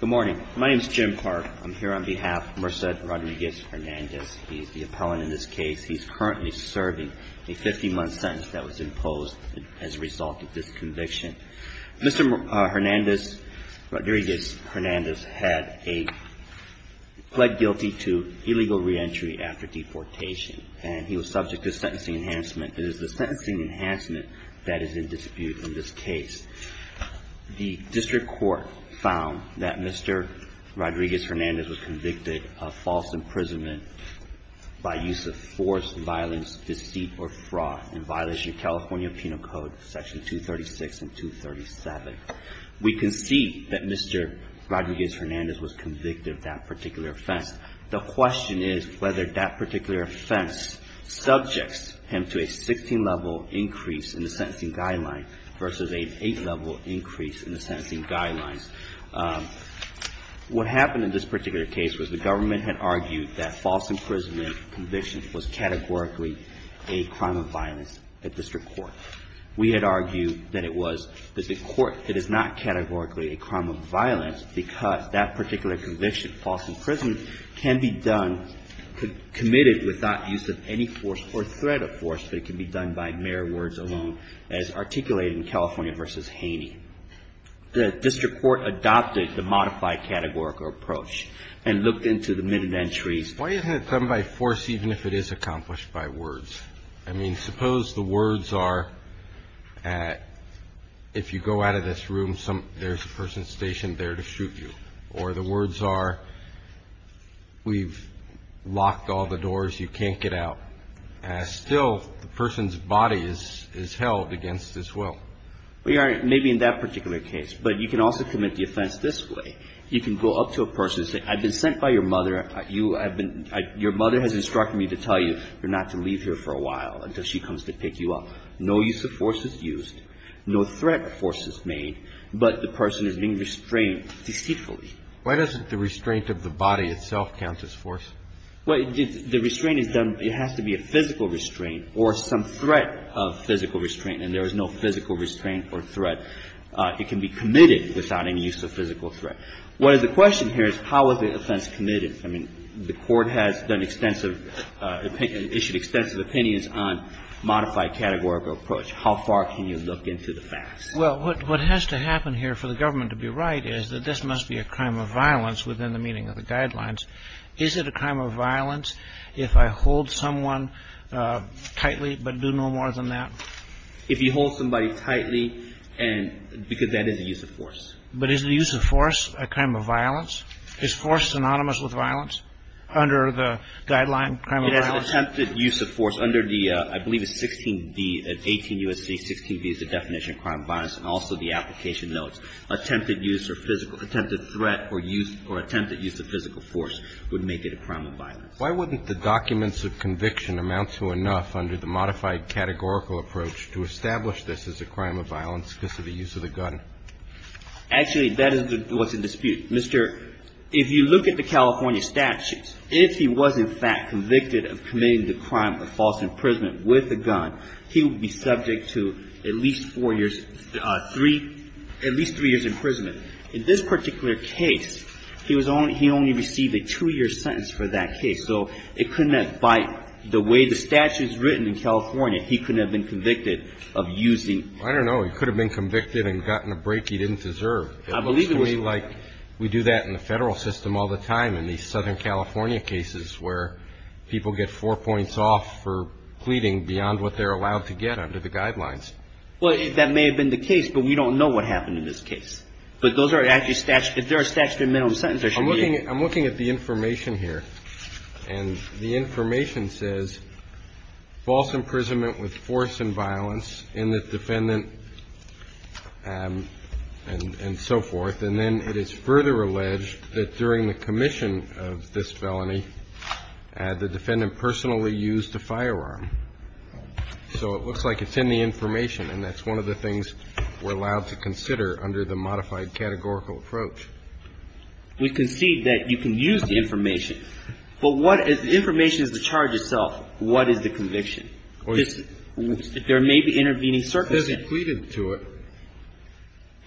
Good morning. My name is Jim Clark. I'm here on behalf of Merced Rodriguez-Hernandez. He's the appellant in this case. He's currently serving a 50-month sentence that was imposed as a result of this conviction. Mr. Hernandez, Rodriguez-Hernandez, had a, pled guilty to illegal reentry after deportation, and he was subject to sentencing enhancement. It is the sentencing enhancement that is in dispute in this case. The district court found that Mr. Rodriguez-Hernandez was convicted of false imprisonment by use of force, violence, deceit, or fraud in violation of California Penal Code Section 236 and 237. We concede that Mr. Rodriguez-Hernandez was convicted of that particular offense. The question is whether that particular offense subjects him to a 16-level increase in the sentencing guideline versus an 8-level increase in the sentence. What happened in this particular case was the government had argued that false imprisonment conviction was categorically a crime of violence at district court. We had argued that it was, that the court, it is not categorically a crime of violence because that particular conviction, false imprisonment, can be done, committed without use of any force or threat of force, but it can be done by mere words alone, as articulated in California v. Harris. The district court adopted the modified categorical approach and looked into the minute entries. Why isn't it done by force even if it is accomplished by words? I mean, suppose the words are, if you go out of this room, there's a person stationed there to shoot you. Or the words are, we've locked all the doors, you can't get out. Still, the person's body is held against his will. Well, Your Honor, maybe in that particular case, but you can also commit the offense this way. You can go up to a person and say, I've been sent by your mother. Your mother has instructed me to tell you you're not to leave here for a while until she comes to pick you up. No use of force is used, no threat of force is made, but the person is being restrained deceitfully. Why doesn't the restraint of the body itself count as force? Well, the restraint is done, it has to be a physical restraint or some threat of physical restraint, and there is no physical restraint or threat. It can be committed without any use of physical threat. What is the question here is how is the offense committed? I mean, the Court has done extensive, issued extensive opinions on modified categorical approach. How far can you look into the facts? Well, what has to happen here for the government to be right is that this must be a crime of violence within the meaning of the guidelines. Is it a crime of violence if I hold someone tightly but do no more than that? If you hold somebody tightly and because that is a use of force. But is the use of force a crime of violence? Is force synonymous with violence under the guideline crime of violence? Well, attempted use of force under the, I believe it's 16b, 18 U.S.C. 16b is the definition of crime of violence and also the application notes. Attempted use or physical, attempted threat or use or attempted use of physical force would make it a crime of violence. Why wouldn't the documents of conviction amount to enough under the modified categorical approach to establish this as a crime of violence because of the use of the gun? Actually, that is what's in dispute. If you look at the California statutes, if he was in fact convicted of committing the crime of false imprisonment with a gun, he would be subject to at least four years, at least three years' imprisonment. In this particular case, he only received a two-year sentence for that case. So it couldn't have, by the way the statute is written in California, he couldn't have been convicted of using. I don't know. He could have been convicted and gotten a break he didn't deserve. I believe it was. It looks to me like we do that in the federal system all the time in these Southern California cases where people get four points off for pleading beyond what they're allowed to get under the guidelines. Well, that may have been the case, but we don't know what happened in this case. But those are actually statutes. If they're a statute of minimum sentence, there should be a. I'm looking at the information here. And the information says false imprisonment with force and violence in the defendant and so forth. And then it is further alleged that during the commission of this felony, the defendant personally used a firearm. So it looks like it's in the information, and that's one of the things we're allowed to consider under the modified categorical approach. We concede that you can use the information, but what is the information is the charge itself. What is the conviction? There may be intervening circumstances. It says he pleaded to it.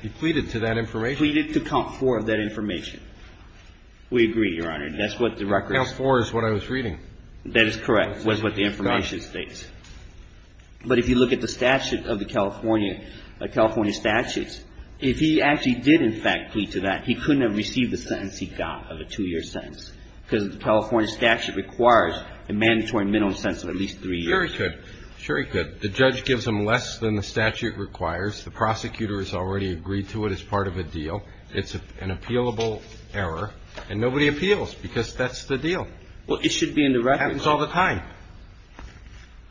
He pleaded to that information. He pleaded to count four of that information. We agree, Your Honor. That's what the record. Count four is what I was reading. That is correct, was what the information states. But if you look at the statute of the California, California statutes, if he actually did in fact plead to that, he couldn't have received the sentence he got of a two-year sentence because the California statute requires a mandatory minimum sentence of at least three years. Sure he could. Sure he could. The judge gives him less than the statute requires. The prosecutor has already agreed to it as part of a deal. It's an appealable error. And nobody appeals because that's the deal. Well, it should be in the record. It happens all the time.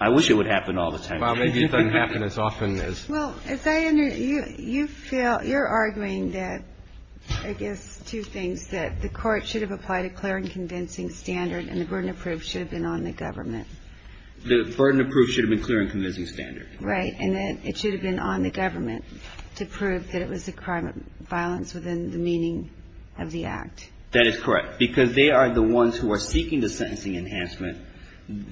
I wish it would happen all the time. Well, maybe it doesn't happen as often as. Well, as I understand, you feel, you're arguing that, I guess, two things, that the court should have applied a clear and convincing standard and the burden of proof should have been on the government. The burden of proof should have been clear and convincing standard. Right. And then it should have been on the government to prove that it was a crime of violence within the meaning of the act. That is correct. Because they are the ones who are seeking the sentencing enhancement.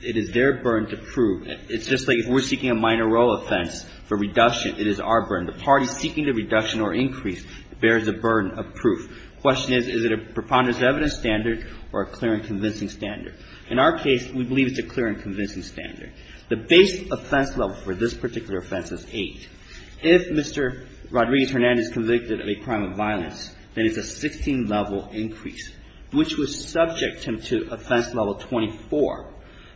It is their burden to prove. It's just like if we're seeking a minor role offense for reduction, it is our burden. The party seeking the reduction or increase bears the burden of proof. The question is, is it a preponderance of evidence standard or a clear and convincing standard? In our case, we believe it's a clear and convincing standard. The base offense level for this particular offense is 8. If Mr. Rodriguez-Hernandez is convicted of a crime of violence, then it's a 16-level increase, which would subject him to offense level 24.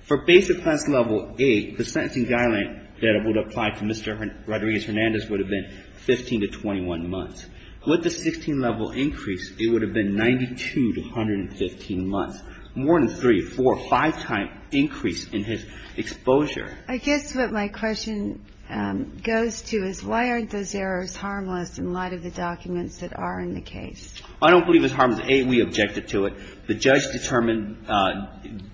For base offense level 8, the sentencing guideline that would apply to Mr. Rodriguez-Hernandez would have been 15 to 21 months. With the 16-level increase, it would have been 92 to 115 months. More than three, four, five-time increase in his exposure. I guess what my question goes to is why aren't those errors harmless in light of the documents that are in the case? I don't believe it's harmless. A, we objected to it. B, the judge determined,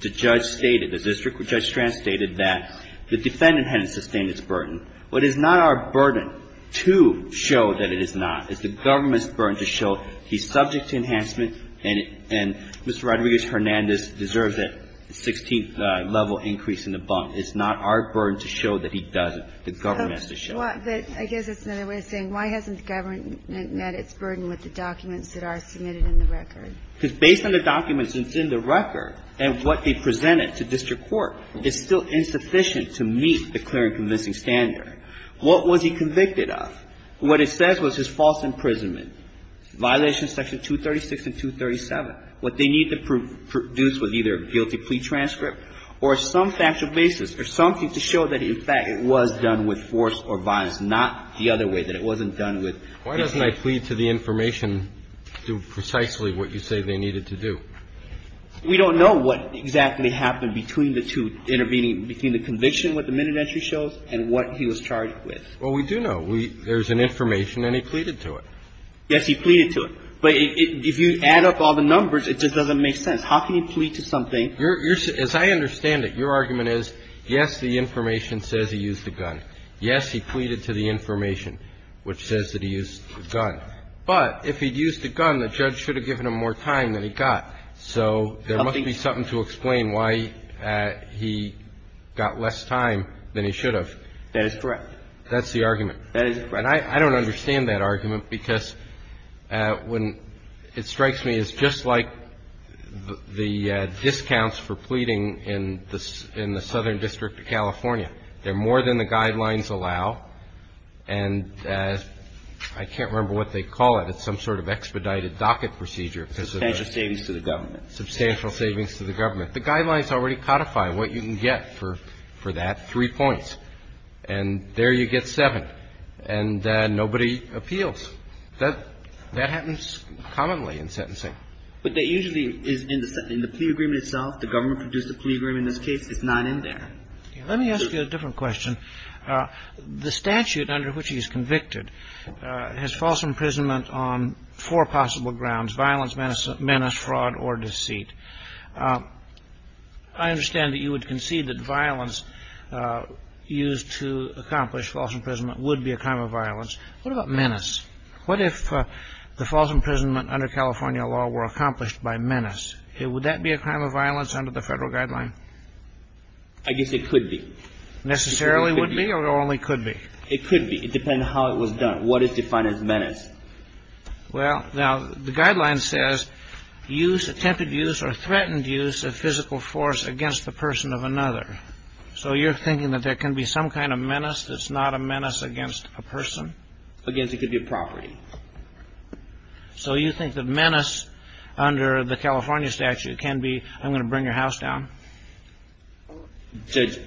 the judge stated, the district judge translated that the defendant hadn't sustained its burden. What is not our burden to show that it is not is the government's burden to show he's subject to enhancement and Mr. Rodriguez-Hernandez deserves a 16-level increase in the bump. It's not our burden to show that he doesn't. The government has to show it. But I guess that's another way of saying why hasn't the government met its burden with the documents that are submitted in the record? Because based on the documents that's in the record and what they presented to district court, it's still insufficient to meet the clear and convincing standard. What was he convicted of? What it says was his false imprisonment. Violation of Section 236 and 237. What they need to produce was either a guilty plea transcript or some factual basis or something to show that, in fact, it was done with force or violence, not the other way, that it wasn't done with his hand. Why doesn't I plead to the information do precisely what you say they needed to do? We don't know what exactly happened between the two intervening, between the conviction, what the minute entry shows, and what he was charged with. Well, we do know. There's an information and he pleaded to it. Yes, he pleaded to it. But if you add up all the numbers, it just doesn't make sense. How can you plead to something? As I understand it, your argument is, yes, the information says he used a gun. Yes, he pleaded to the information, which says that he used a gun. But if he'd used a gun, the judge should have given him more time than he got. So there must be something to explain why he got less time than he should have. That is correct. That's the argument. That is correct. And I don't understand that argument, because when it strikes me, it's just like the discounts for pleading in the Southern District of California. They're more than the guidelines allow. And I can't remember what they call it. It's some sort of expedited docket procedure. Substantial savings to the government. Substantial savings to the government. The guidelines already codify what you can get for that, three points. And there you get seven. And nobody appeals. That happens commonly in sentencing. But that usually is in the plea agreement itself. The government produced a plea agreement in this case. It's not in there. Let me ask you a different question. The statute under which he's convicted has false imprisonment on four possible grounds, violence, menace, fraud or deceit. I understand that you would concede that violence used to accomplish false imprisonment would be a crime of violence. What about menace? What if the false imprisonment under California law were accomplished by menace? Would that be a crime of violence under the federal guideline? I guess it could be. Necessarily would be or only could be? It could be. It depends on how it was done. What is defined as menace? Well, now, the guideline says use, attempted use or threatened use of physical force against the person of another. So you're thinking that there can be some kind of menace that's not a menace against a person? Against it could be a property. So you think that menace under the California statute can be I'm going to bring your house down? Judge,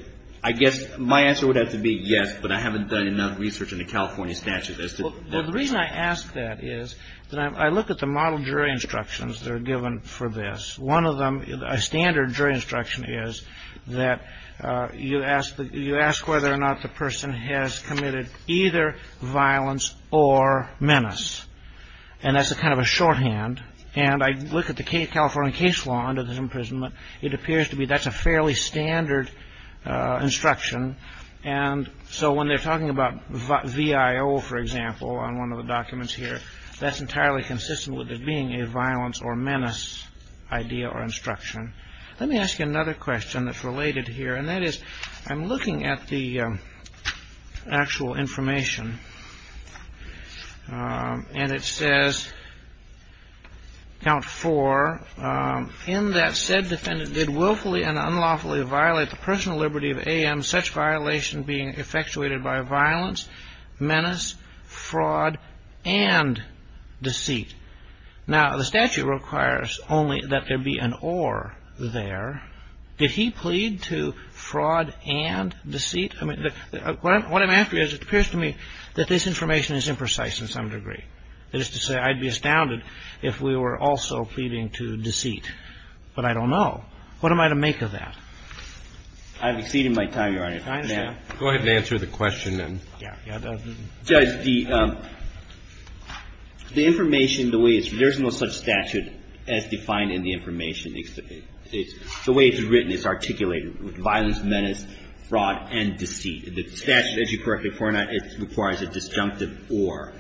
I guess my answer would have to be yes, but I haven't done enough research in the California statute as to Well, the reason I ask that is that I look at the model jury instructions that are given for this. One of them, a standard jury instruction is that you ask whether or not the person has committed either violence or menace. And that's a kind of a shorthand. And I look at the California case law under this imprisonment. It appears to me that's a fairly standard instruction. And so when they're talking about V.I.O., for example, on one of the documents here, that's entirely consistent with it being a violence or menace idea or instruction. Let me ask you another question that's related here, and that is I'm looking at the actual information. And it says count for in that said defendant did willfully and unlawfully violate the personal liberty of A.M. such violation being effectuated by violence, menace, fraud and deceit. Now, the statute requires only that there be an or there. Did he plead to fraud and deceit? I mean, what I'm after is, it appears to me that this information is imprecise in some degree. That is to say, I'd be astounded if we were also pleading to deceit. But I don't know. What am I to make of that? I've exceeded my time, Your Honor. Go ahead and answer the question then. Yeah. Judge, the information, the way it's written, there's no such statute as defined in the information. The way it's written, it's articulated with violence, menace, fraud and deceit. The statute, as you correctly pointed out, it requires a disjunctive or.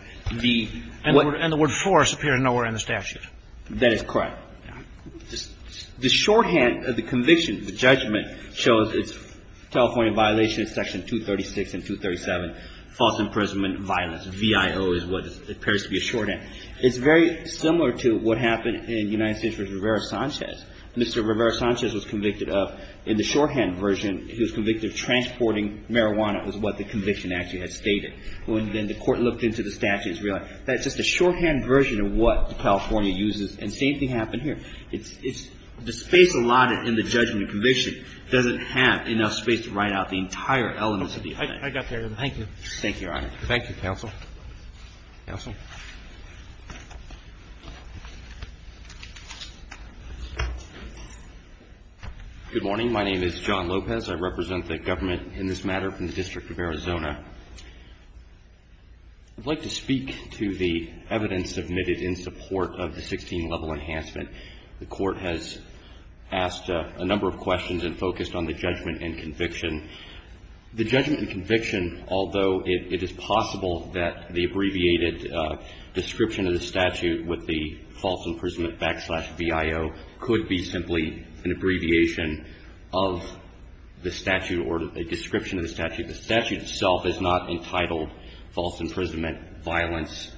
And the word force appeared nowhere in the statute. That is correct. The shorthand of the conviction, the judgment, shows it's a California violation of Section 236 and 237, false imprisonment, violence. VIO is what appears to be a shorthand. It's very similar to what happened in United States v. Rivera-Sanchez. Mr. Rivera-Sanchez was convicted of, in the shorthand version, he was convicted of transporting marijuana, is what the conviction actually has stated. Then the court looked into the statute and realized that it's just a shorthand version of what California uses. And the same thing happened here. The space allotted in the judgment and conviction doesn't have enough space to write out the entire elements of the indictment. I got there. Thank you, Your Honor. Thank you, counsel. Counsel? Good morning. My name is John Lopez. I represent the government in this matter from the District of Arizona. I'd like to speak to the evidence submitted in support of the 16-level enhancement. The court has asked a number of questions and focused on the judgment and conviction. The judgment and conviction, although it is possible that the abbreviated description of the statute with the false imprisonment backslash VIO could be simply an abbreviation of the statute or a description of the statute. The statute itself is not entitled false imprisonment, violence,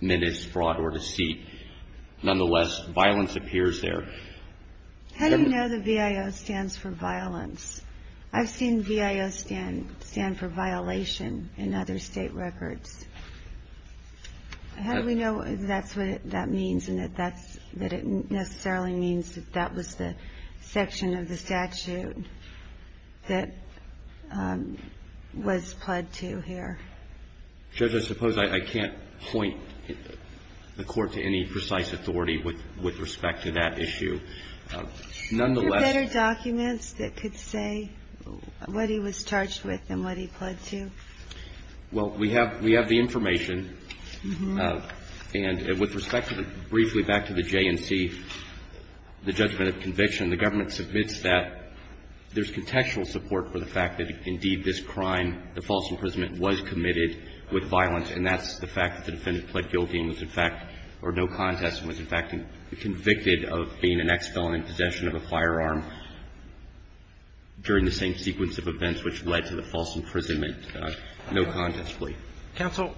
menace, fraud, or deceit. Nonetheless, violence appears there. How do you know the VIO stands for violence? I've seen VIO stand for violation in other state records. How do we know that's what that means and that it necessarily means that that was the section of the statute that was pled to here? Judge, I suppose I can't point the court to any precise authority with respect to that issue. Nonetheless — Are there better documents that could say what he was charged with and what he pled to? Well, we have the information. And with respect to the — briefly back to the J&C, the judgment of conviction, the government submits that there's contextual support for the fact that, indeed, this crime, the false imprisonment, was committed with violence, and that's the fact that the defendant pled guilty and was, in fact — or no contest and was, in fact, convicted of being an ex-felon in possession of a firearm during the same sequence of events which led to the false imprisonment, no contest plea. Counsel,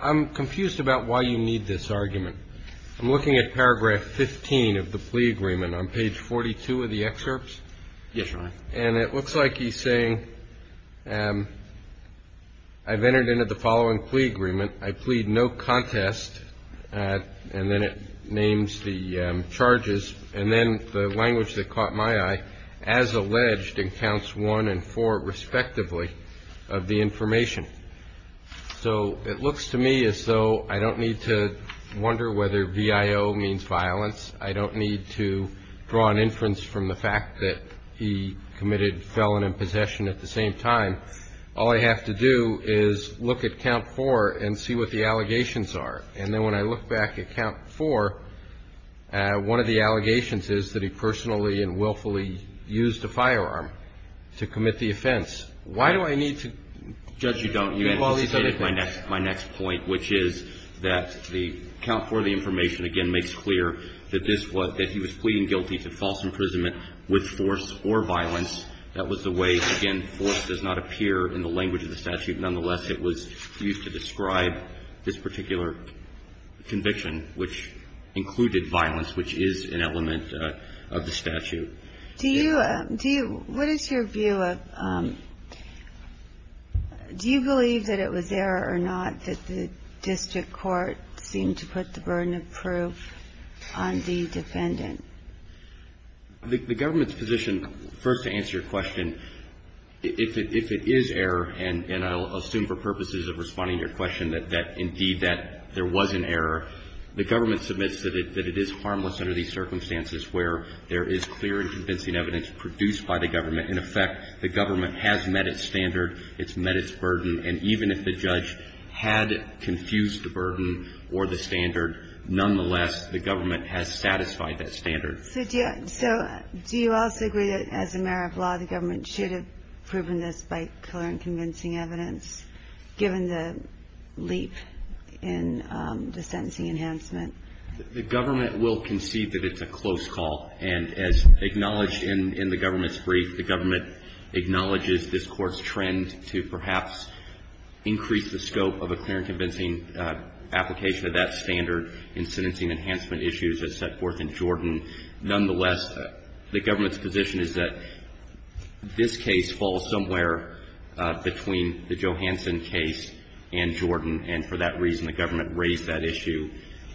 I'm confused about why you need this argument. I'm looking at paragraph 15 of the plea agreement on page 42 of the excerpts. Yes, Your Honor. And it looks like he's saying, I've entered into the following plea agreement. I plead no contest. And then it names the charges. And then the language that caught my eye, as alleged in counts one and four respectively of the information. So it looks to me as though I don't need to wonder whether VIO means violence. I don't need to draw an inference from the fact that he committed felon in possession at the same time. All I have to do is look at count four and see what the allegations are. And then when I look back at count four, one of the allegations is that he personally and willfully used a firearm to commit the offense. Why do I need to call these other things? Judge, you don't. You anticipated my next point, which is that the count four of the information, again, makes clear that this was — that he was pleading guilty to false imprisonment with force or violence. That was the way, again, force does not appear in the language of the statute. Nonetheless, it was used to describe this particular conviction, which included violence, which is an element of the statute. Do you — do you — what is your view of — do you believe that it was there or not that the district court seemed to put the burden of proof on the defendant? The government's position, first to answer your question, if it — if it is error, and I'll assume for purposes of responding to your question that indeed that there was an error, the government submits that it — that it is harmless under these circumstances where there is clear and convincing evidence produced by the government. In effect, the government has met its standard. It's met its burden. And even if the judge had confused the burden or the standard, nonetheless, the government has satisfied that standard. So do you — so do you also agree that as a matter of law, the government should have proven this by clear and convincing evidence, given the leap in the sentencing enhancement? The government will concede that it's a close call. And as acknowledged in the government's brief, the government acknowledges this Court's trend to perhaps increase the scope of a clear and convincing application of that standard in sentencing enhancement issues as set forth in Jordan. Nonetheless, the government's position is that this case falls somewhere between the Johanson case and Jordan, and for that reason the government raised that issue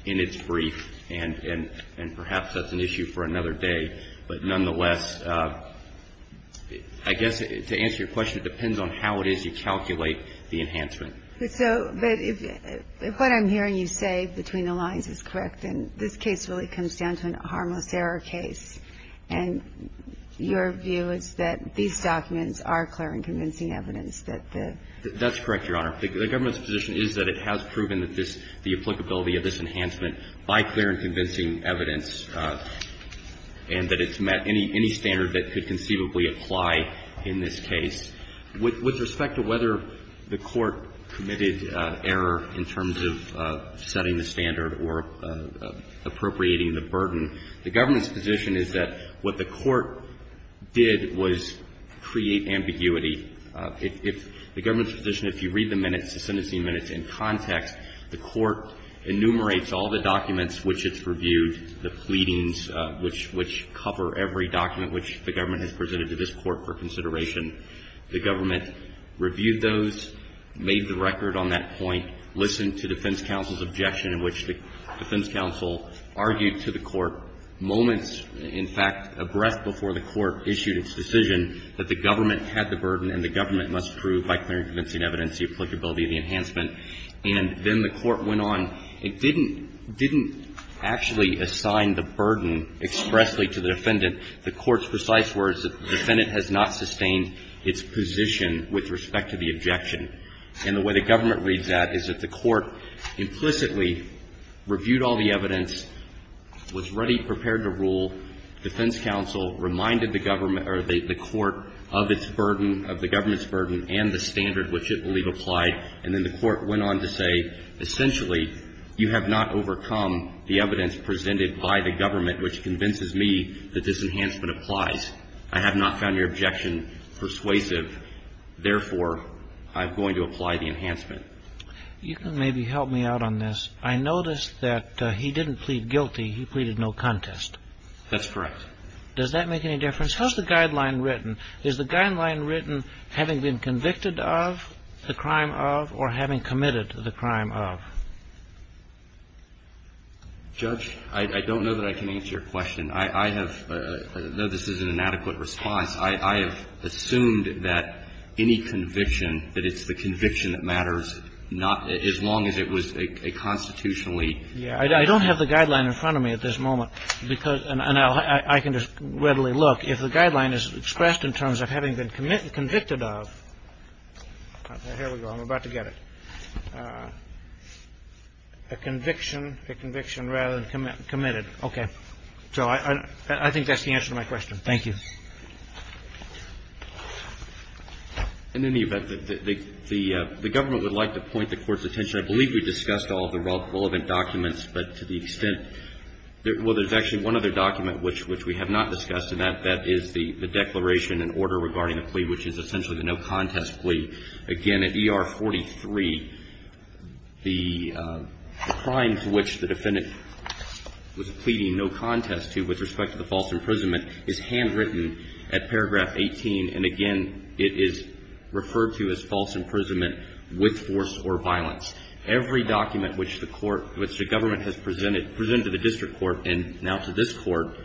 in its brief, and perhaps that's an issue for another day. But nonetheless, I guess to answer your question, it depends on how it is you calculate the enhancement. But so — but if what I'm hearing you say between the lines is correct, then this case really comes down to a harmless error case. And your view is that these documents are clear and convincing evidence that the — That's correct, Your Honor. The government's position is that it has proven that this — the applicability of this enhancement by clear and convincing evidence, and that it's met any standard that could conceivably apply in this case. With respect to whether the Court committed error in terms of setting the standard or appropriating the burden, the government's position is that what the Court did was create ambiguity. If — the government's position, if you read the minutes, the sentencing minutes in context, the Court enumerates all the documents which it's reviewed, the pleadings which — which cover every document which the government has presented to this Court for consideration. The government reviewed those, made the record on that point, listened to defense counsel's objection, in which the defense counsel argued to the Court moments in fact abreast before the Court issued its decision that the government had the burden and the government must prove by clear and convincing evidence the applicability of the enhancement, and then the Court went on. It didn't — didn't actually assign the burden expressly to the defendant. The Court's precise words, the defendant has not sustained its position with respect to the objection. And the way the government reads that is that the Court implicitly reviewed all the evidence, was ready, prepared to rule. Defense counsel reminded the government — or the Court of its burden, of the government's burden and the standard which it believed applied, and then the Court went on to say, essentially, you have not overcome the evidence presented by the government, which convinces me that this enhancement applies. I have not found your objection persuasive. Therefore, I'm going to apply the enhancement. You can maybe help me out on this. I noticed that he didn't plead guilty. He pleaded no contest. That's correct. Does that make any difference? How is the guideline written? Is the guideline written having been convicted of the crime of or having committed the crime of? Judge, I don't know that I can answer your question. I have — I know this is an inadequate response. I have assumed that any conviction, that it's the conviction that matters, not — as long as it was a constitutionally. Yeah. I don't have the guideline in front of me at this moment, because — and I can just readily look. If the guideline is expressed in terms of having been convicted of — here we go. I'm about to get it. A conviction — a conviction rather than committed. Okay. So I think that's the answer to my question. Thank you. In any event, the Government would like to point the Court's attention — I believe we discussed all the relevant documents, but to the extent — well, there's actually one other document which we have not discussed, and that is the declaration and order regarding the plea, which is essentially the no contest plea. Again, at ER 43, the crime to which the defendant was pleading no contest to with respect to the false imprisonment is handwritten at paragraph 18. And again, it is referred to as false imprisonment with force or violence. Every document which the Court — which the Government has presented — presented to the District Court and now to this Court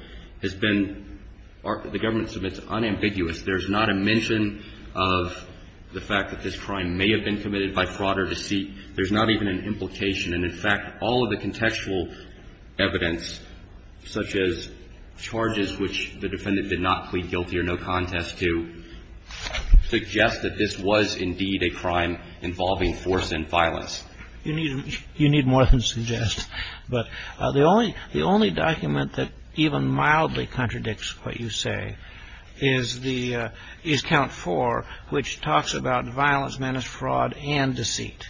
has been — the Government submits unambiguous. There's not a mention of the fact that this crime may have been committed by fraud or deceit. There's not even an implication. And in fact, all of the contextual evidence, such as charges which the defendant did not plead guilty or no contest to, suggest that this was indeed a crime involving force and violence. You need more than suggest. But the only — the only document that even mildly contradicts what you say is the — is count four, which talks about violence, menace, fraud, and deceit.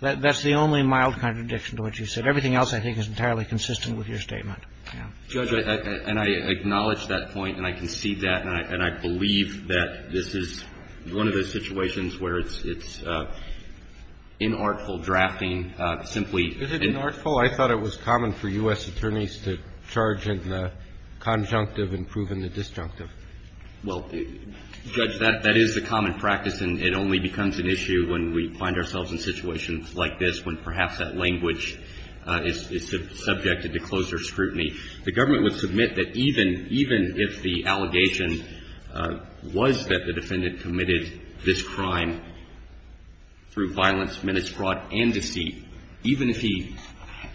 That's the only mild contradiction to what you said. Everything else, I think, is entirely consistent with your statement. Yeah. Judge, and I acknowledge that point, and I concede that, and I believe that this is one of those situations where it's inartful drafting simply — Is it inartful? I thought it was common for U.S. attorneys to charge in the conjunctive and prove in the disjunctive. Well, Judge, that is a common practice, and it only becomes an issue when we find ourselves in situations like this, when perhaps that language is subjected to closer scrutiny. The Government would submit that even — even if the allegation was that the defendant committed this crime through violence, menace, fraud, and deceit, even if he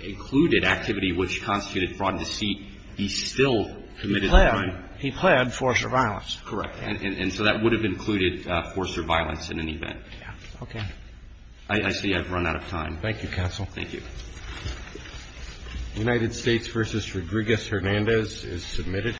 included activity which constituted fraud and deceit, he still committed the crime. He planned. He planned force or violence. Correct. And so that would have included force or violence in any event. Yeah. Okay. I see I've run out of time. Thank you, counsel. Thank you. United States v. Rodriguez-Hernandez is submitted.